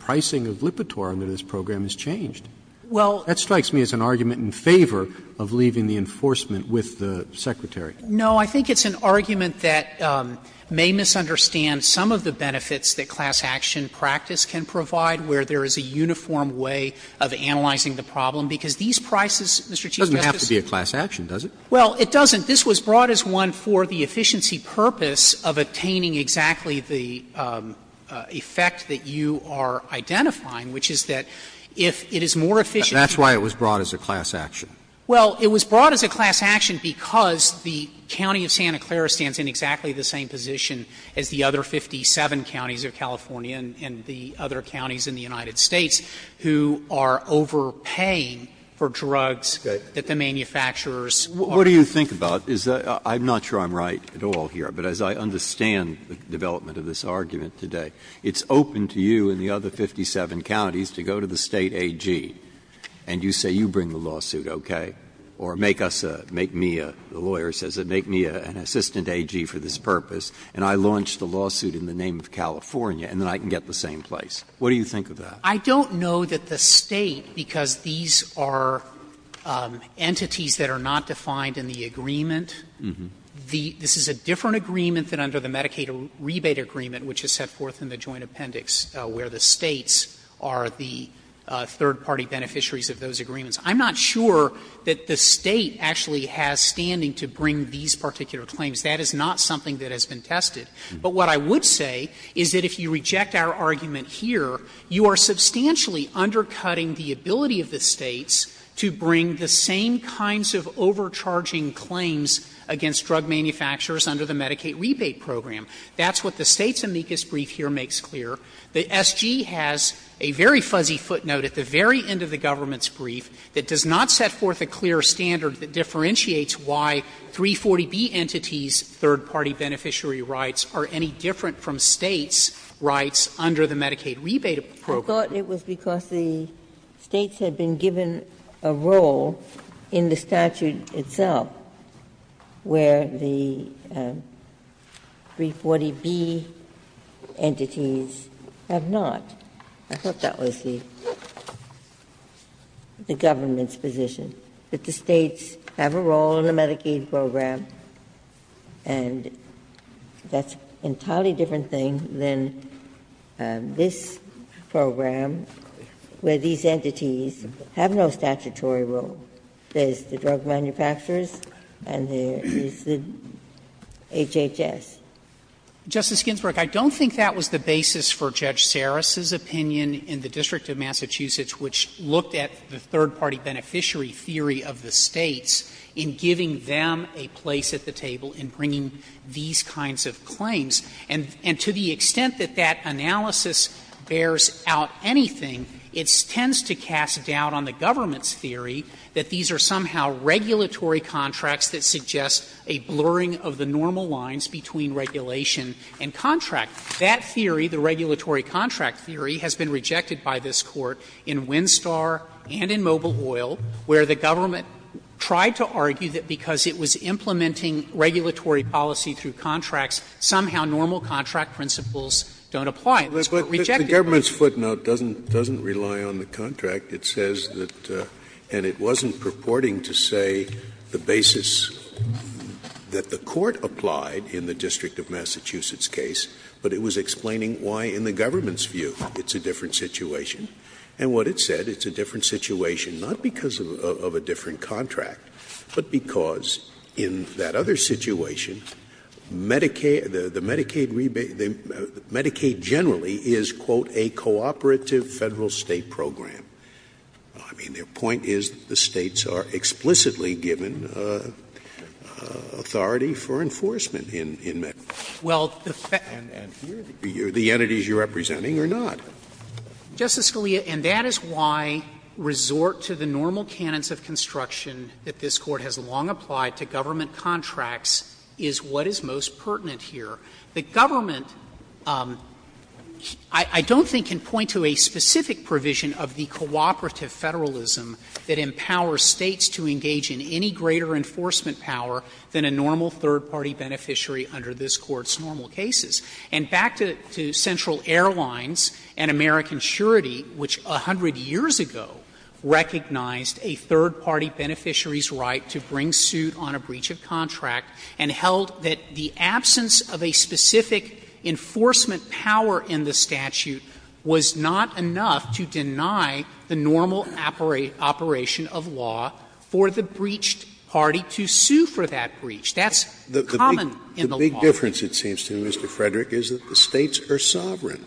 pricing of Lipitor under this program is changed. That strikes me as an argument in favor of leaving the enforcement with the Secretary. No, I think it's an argument that may misunderstand some of the benefits that class action practice can provide, where there is a uniform way of analyzing the problem, because these prices, Mr. Chief Justice. It doesn't have to be a class action, does it? Well, it doesn't. This was brought as one for the efficiency purpose of attaining exactly the effect that you are identifying, which is that if it is more efficient. But that's why it was brought as a class action. Well, it was brought as a class action because the county of Santa Clara stands in exactly the same position as the other 57 counties of California and the other counties in the United States, who are overpaying for drugs that the manufacturers are paying for. Breyer's what do you think about? I'm not sure I'm right at all here, but as I understand the development of this argument today, it's open to you and the other 57 counties to go to the State AG and you say, you bring the lawsuit, okay, or make us a, make me a, the lawyer says, make me an assistant AG for this purpose, and I launch the lawsuit in the name of California, and then I can get the same place. What do you think of that? I don't know that the State, because these are entities that are not defined in the agreement, the, this is a different agreement than under the Medicaid rebate agreement, which is set forth in the joint appendix, where the States are the third-party beneficiaries of those agreements. I'm not sure that the State actually has standing to bring these particular claims. That is not something that has been tested. But what I would say is that if you reject our argument here, you are substantially undercutting the ability of the States to bring the same kinds of overcharging claims against drug manufacturers under the Medicaid rebate program. That's what the State's amicus brief here makes clear. The SG has a very fuzzy footnote at the very end of the government's brief that does not set forth a clear standard that differentiates why 340B entities' third-party beneficiary rights are any different from States' rights under the Medicaid rebate program. Ginsburg. I thought it was because the States had been given a role in the statute itself where the 340B entities have not. I thought that was the government's position, that the States have a role in the Medicaid rebate program, and that's an entirely different thing than this program, where these entities have no statutory role. There's the drug manufacturers and there is the HHS. Justice Ginsburg, I don't think that was the basis for Judge Saras's opinion in the District of Massachusetts, which looked at the third-party beneficiary theory of the Medicaid rebate program a place at the table in bringing these kinds of claims. And to the extent that that analysis bears out anything, it tends to cast doubt on the government's theory that these are somehow regulatory contracts that suggest a blurring of the normal lines between regulation and contract. That theory, the regulatory contract theory, has been rejected by this Court in Winstar and in Mobile Oil, where the government tried to argue that because it was implementing regulatory policy through contracts, somehow normal contract principles don't apply. And this Court rejected it. Scalia. But the government's footnote doesn't rely on the contract. It says that — and it wasn't purporting to say the basis that the Court applied in the District of Massachusetts case, but it was explaining why in the government's view it's a different situation. And what it said, it's a different situation, not because of a different contract, but because in that other situation, Medicaid — the Medicaid rebate — Medicaid generally is, quote, a cooperative Federal-State program. I mean, their point is that the States are explicitly given authority for enforcement in Medicaid. And here, the entities you're representing are not. Justice Scalia, and that is why resort to the normal canons of construction that this Court has long applied to government contracts is what is most pertinent here. The government, I don't think, can point to a specific provision of the cooperative Federalism that empowers States to engage in any greater enforcement power than a normal third-party beneficiary under this Court's normal cases. And back to Central Airlines and American Surety, which 100 years ago recognized a third-party beneficiary's right to bring suit on a breach of contract, and held that the absence of a specific enforcement power in the statute was not enough to deny the normal operation of law for the breached party to sue for that breach. That's common in the law. Scalia, the only difference, it seems to me, Mr. Frederick, is that the States are sovereign.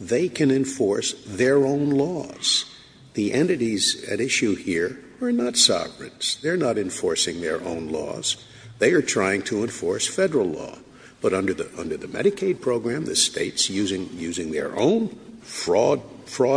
They can enforce their own laws. The entities at issue here are not sovereign. They're not enforcing their own laws. They are trying to enforce Federal law. But under the Medicaid program, the States, using their own fraud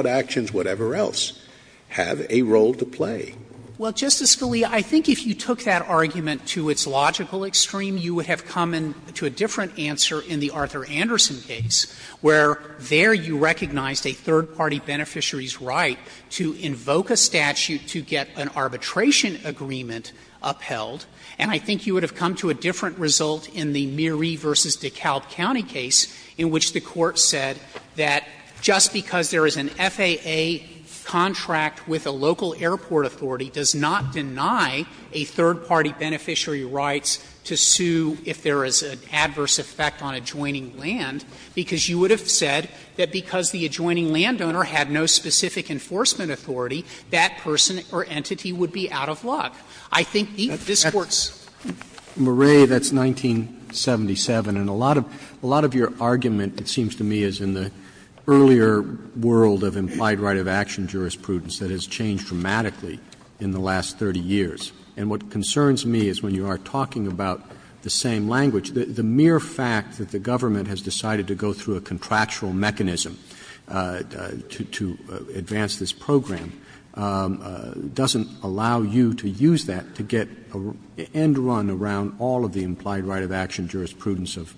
actions, whatever else, have a role to play. Well, Justice Scalia, I think if you took that argument to its logical extreme, you would have come to a different answer in the Arthur Anderson case, where there you recognized a third-party beneficiary's right to invoke a statute to get an arbitration agreement upheld. And I think you would have come to a different result in the Murie v. DeKalb County case, in which the Court said that just because there is an FAA contract with a local if there is an adverse effect on adjoining land, because you would have said that because the adjoining landowner had no specific enforcement authority, that person or entity would be out of luck. I think this Court's rules are different. Roberts, that's 1977, and a lot of your argument, it seems to me, is in the earlier world of implied right of action jurisprudence that has changed dramatically in the last 30 years. And what concerns me is when you are talking about the same language, the mere fact that the government has decided to go through a contractual mechanism to advance this program doesn't allow you to use that to get an end run around all of the implied right of action jurisprudence of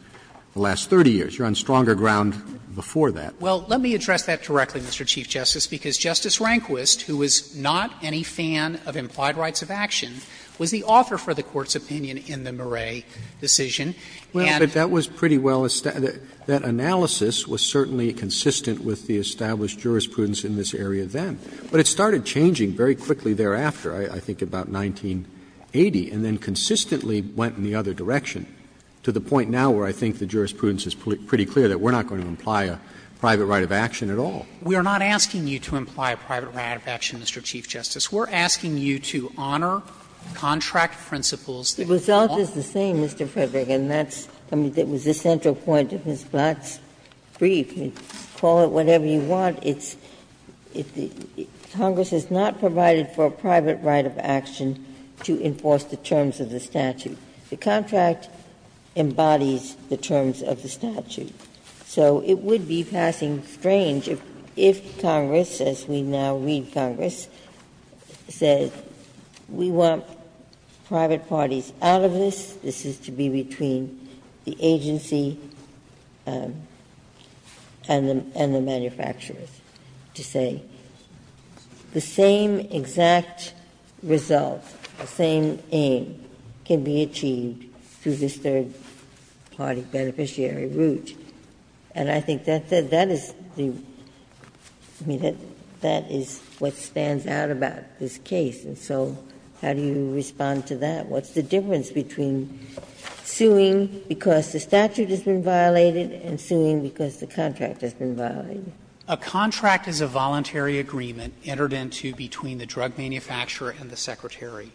the last 30 years. You're on stronger ground before that. Well, let me address that directly, Mr. Chief Justice, because Justice Rehnquist, who is not any fan of implied rights of action, was the author for the Court's opinion in the Murray decision. And that was pretty well established. That analysis was certainly consistent with the established jurisprudence in this area then. But it started changing very quickly thereafter, I think about 1980, and then consistently went in the other direction to the point now where I think the jurisprudence is pretty clear that we're not going to imply a private right of action at all. We are not asking you to imply a private right of action, Mr. Chief Justice. We're asking you to honor contract principles that you call out. Ginsburg. The result is the same, Mr. Frederick, and that's the central point of Ms. Blatt's brief. Call it whatever you want. It's the Congress has not provided for a private right of action to enforce the terms of the statute. The contract embodies the terms of the statute. So it would be passing strange if Congress, as we now read Congress, says we want private parties out of this, this is to be between the agency and the manufacturers, to say the same exact result, the same aim, can be achieved through this third-party beneficiary route. And I think that is the one that stands out about this case. And so how do you respond to that? What's the difference between suing because the statute has been violated and suing because the contract has been violated? Frederick, a contract is a voluntary agreement entered into between the drug manufacturer and the secretary.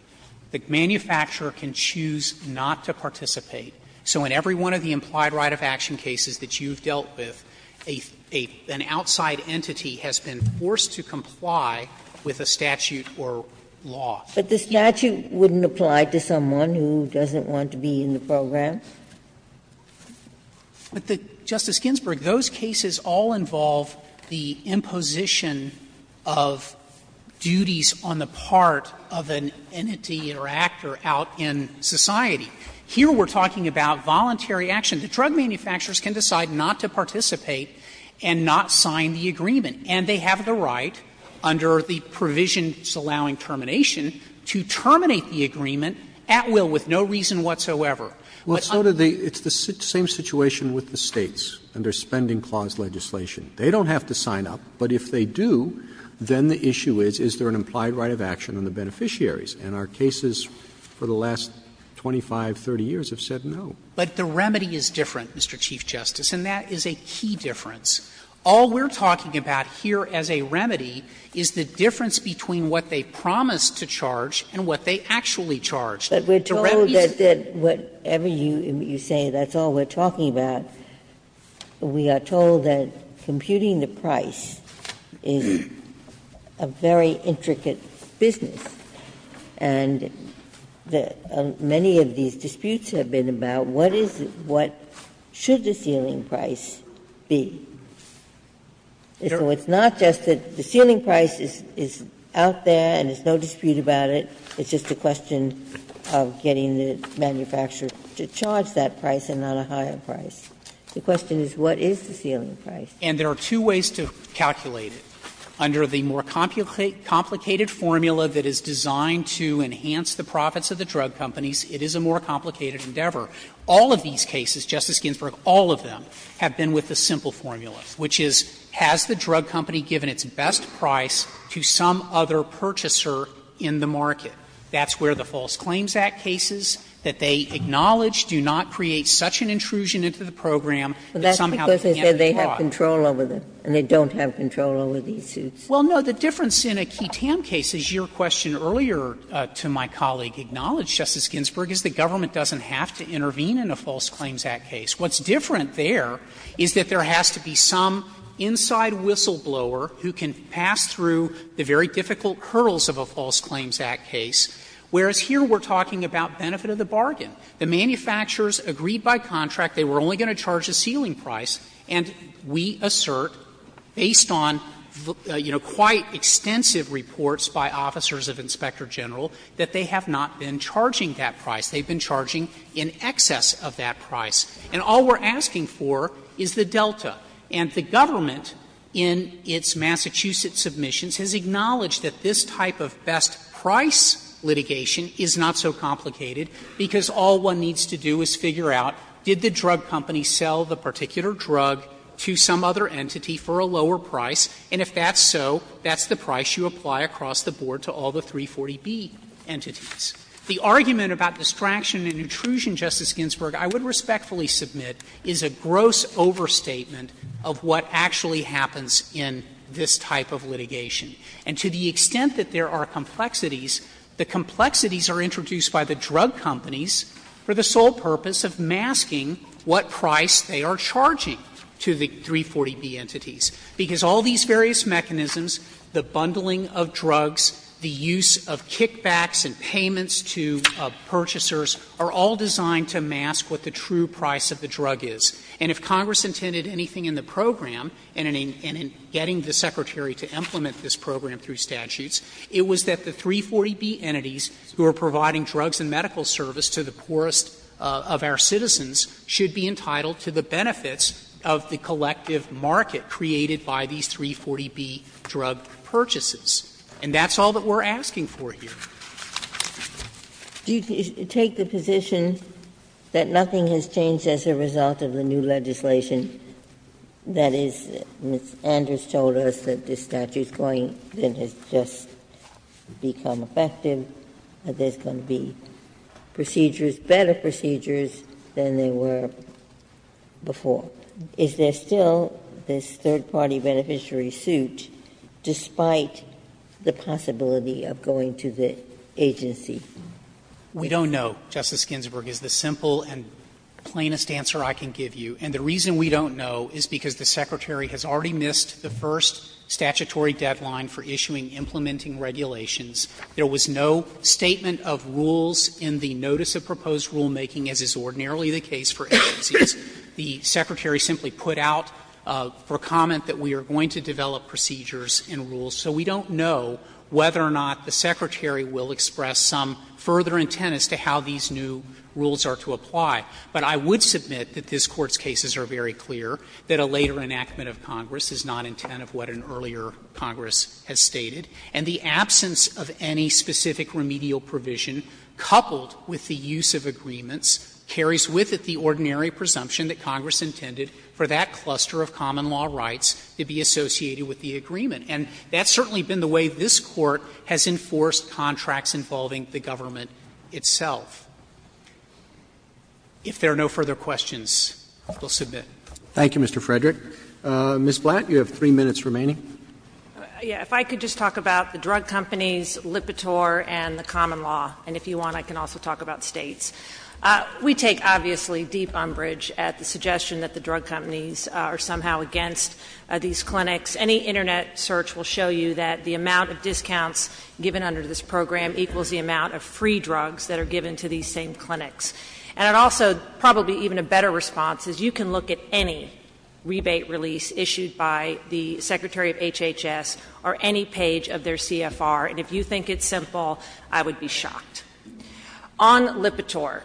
The manufacturer can choose not to participate. So in every one of the implied right of action cases that you've dealt with, an outside entity has been forced to comply with a statute or law. But the statute wouldn't apply to someone who doesn't want to be in the program? But, Justice Ginsburg, those cases all involve the imposition of duties on the part of an entity or actor out in society. Here we're talking about voluntary action. The drug manufacturers can decide not to participate and not sign the agreement. And they have the right, under the provisions allowing termination, to terminate the agreement at will with no reason whatsoever. Roberts, it's the same situation with the States under Spending Clause legislation. They don't have to sign up, but if they do, then the issue is, is there an implied right of action on the beneficiaries? And our cases for the last 25, 30 years have said no. But the remedy is different, Mr. Chief Justice, and that is a key difference. All we're talking about here as a remedy is the difference between what they promised to charge and what they actually charged. The remedy is different. But we're told that whatever you say, that's all we're talking about. We are told that computing the price is a very intricate business, and many of these disputes have been about what is, what should the ceiling price be? So it's not just that the ceiling price is out there and there's no dispute about it, it's just a question of getting the manufacturer to charge that price and not a higher price. The question is, what is the ceiling price? And there are two ways to calculate it. Under the more complicated formula that is designed to enhance the profits of the drug companies, it is a more complicated endeavor. All of these cases, Justice Ginsburg, all of them have been with the simple formula, which is, has the drug company given its best price to some other purchaser in the market? That's where the False Claims Act cases that they acknowledge do not create such an intrusion into the program that somehow they can't be brought. Ginsburg. But that's because they said they have control over them, and they don't have control over these suits. Well, no, the difference in a QUITAM case, as your question earlier to my colleague acknowledged, Justice Ginsburg, is the government doesn't have to intervene in a False Claims Act case. What's different there is that there has to be some inside whistleblower who can pass through the very difficult hurdles of a False Claims Act case, whereas here we're talking about benefit of the bargain. The manufacturers agreed by contract they were only going to charge a ceiling price, and we assert, based on, you know, quite extensive reports by officers of Inspector General, that they have not been charging that price. They've been charging in excess of that price. And all we're asking for is the delta. And the government, in its Massachusetts submissions, has acknowledged that this type of best-price litigation is not so complicated, because all one needs to do is figure out, did the drug company sell the particular drug to some other entity for a lower price, and if that's so, that's the price you apply across the board to all the 340B entities. The argument about distraction and intrusion, Justice Ginsburg, I would respectfully submit is a gross overstatement of what actually happens in this type of litigation. And to the extent that there are complexities, the complexities are introduced by the drug companies for the sole purpose of masking what price they are charging to the 340B entities, because all these various mechanisms, the bundling of drugs, the use of kickbacks and payments to purchasers, are all designed to mask what the true price of the drug is. And if Congress intended anything in the program, and in getting the Secretary to implement this program through statutes, it was that the 340B entities who are providing drugs and medical service to the poorest of our citizens should be entitled to the benefits of the collective market created by these 340B drug purchases. And that's all that we're asking for here. Ginsburg. Do you take the position that nothing has changed as a result of the new legislation? That is, Ms. Anders told us that this statute is going to just become effective, that there's going to be procedures, better procedures than there were before. Is there still this third-party beneficiary suit despite the possibility of going to the agency? We don't know, Justice Ginsburg, is the simple and plainest answer I can give you. And the reason we don't know is because the Secretary has already missed the first statutory deadline for issuing implementing regulations. There was no statement of rules in the notice of proposed rulemaking, as is ordinarily the case for agencies. The Secretary simply put out for comment that we are going to develop procedures and rules. So we don't know whether or not the Secretary will express some further intent as to how these new rules are to apply. But I would submit that this Court's cases are very clear that a later enactment of Congress is not intent of what an earlier Congress has stated, and the absence of any specific remedial provision coupled with the use of agreements carries with it the ordinary presumption that Congress intended for that cluster of common law rights to be associated with the agreement. And that's certainly been the way this Court has enforced contracts involving the government itself. If there are no further questions, we'll submit. Roberts. Thank you, Mr. Frederick. Ms. Blatt, you have three minutes remaining. Blatt. If I could just talk about the drug companies, Lipitor, and the common law. And if you want, I can also talk about States. We take, obviously, deep umbrage at the suggestion that the drug companies are somehow against these clinics. Any Internet search will show you that the amount of discounts given under this program equals the amount of free drugs that are given to these same clinics. And it also, probably even a better response, is you can look at any rebate release issued by the Secretary of HHS or any page of their CFR, and if you think it's simple, I would be shocked. On Lipitor,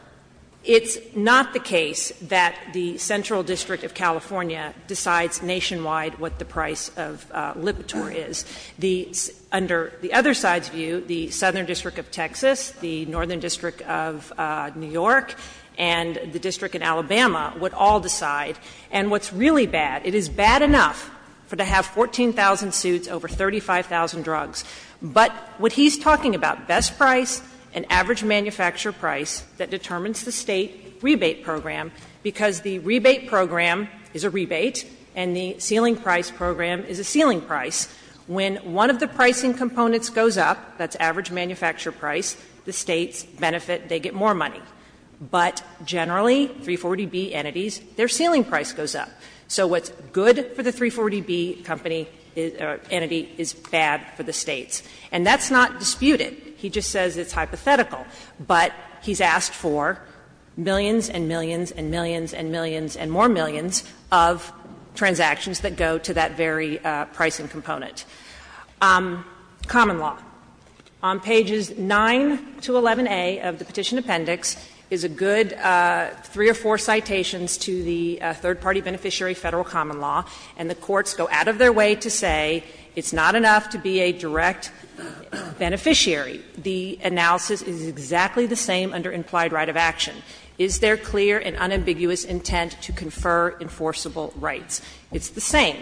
it's not the case that the Central District of California decides nationwide what the price of Lipitor is. Under the other side's view, the Southern District of Texas, the Northern District of New York, and the District in Alabama would all decide. And what's really bad, it is bad enough for them to have 14,000 suits over 35,000 drugs. But what he's talking about, best price and average manufacturer price, that determines the State rebate program, because the rebate program is a rebate and the ceiling price program is a ceiling price, when one of the pricing components goes up, that's average manufacturer price, the States benefit, they get more money. But generally, 340B entities, their ceiling price goes up. So what's good for the 340B company, or entity, is bad for the States. And that's not disputed. He just says it's hypothetical. But he's asked for millions and millions and millions and millions and more millions of transactions that go to that very pricing component. Common law. On pages 9 to 11a of the Petition Appendix is a good three or four citations to the third-party beneficiary Federal common law, and the courts go out of their way to say it's not enough to be a direct beneficiary. The analysis is exactly the same under implied right of action. Is there clear and unambiguous intent to confer enforceable rights? It's the same.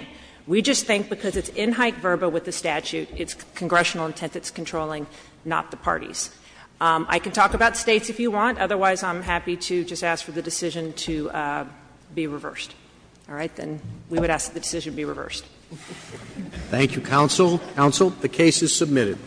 We just think because it's in hype verba with the statute, it's congressional intent that's controlling, not the parties. I can talk about States if you want. Otherwise, I'm happy to just ask for the decision to be reversed. All right? Then we would ask that the decision be reversed. Roberts. Roberts. Thank you, counsel. Counsel, the case is submitted.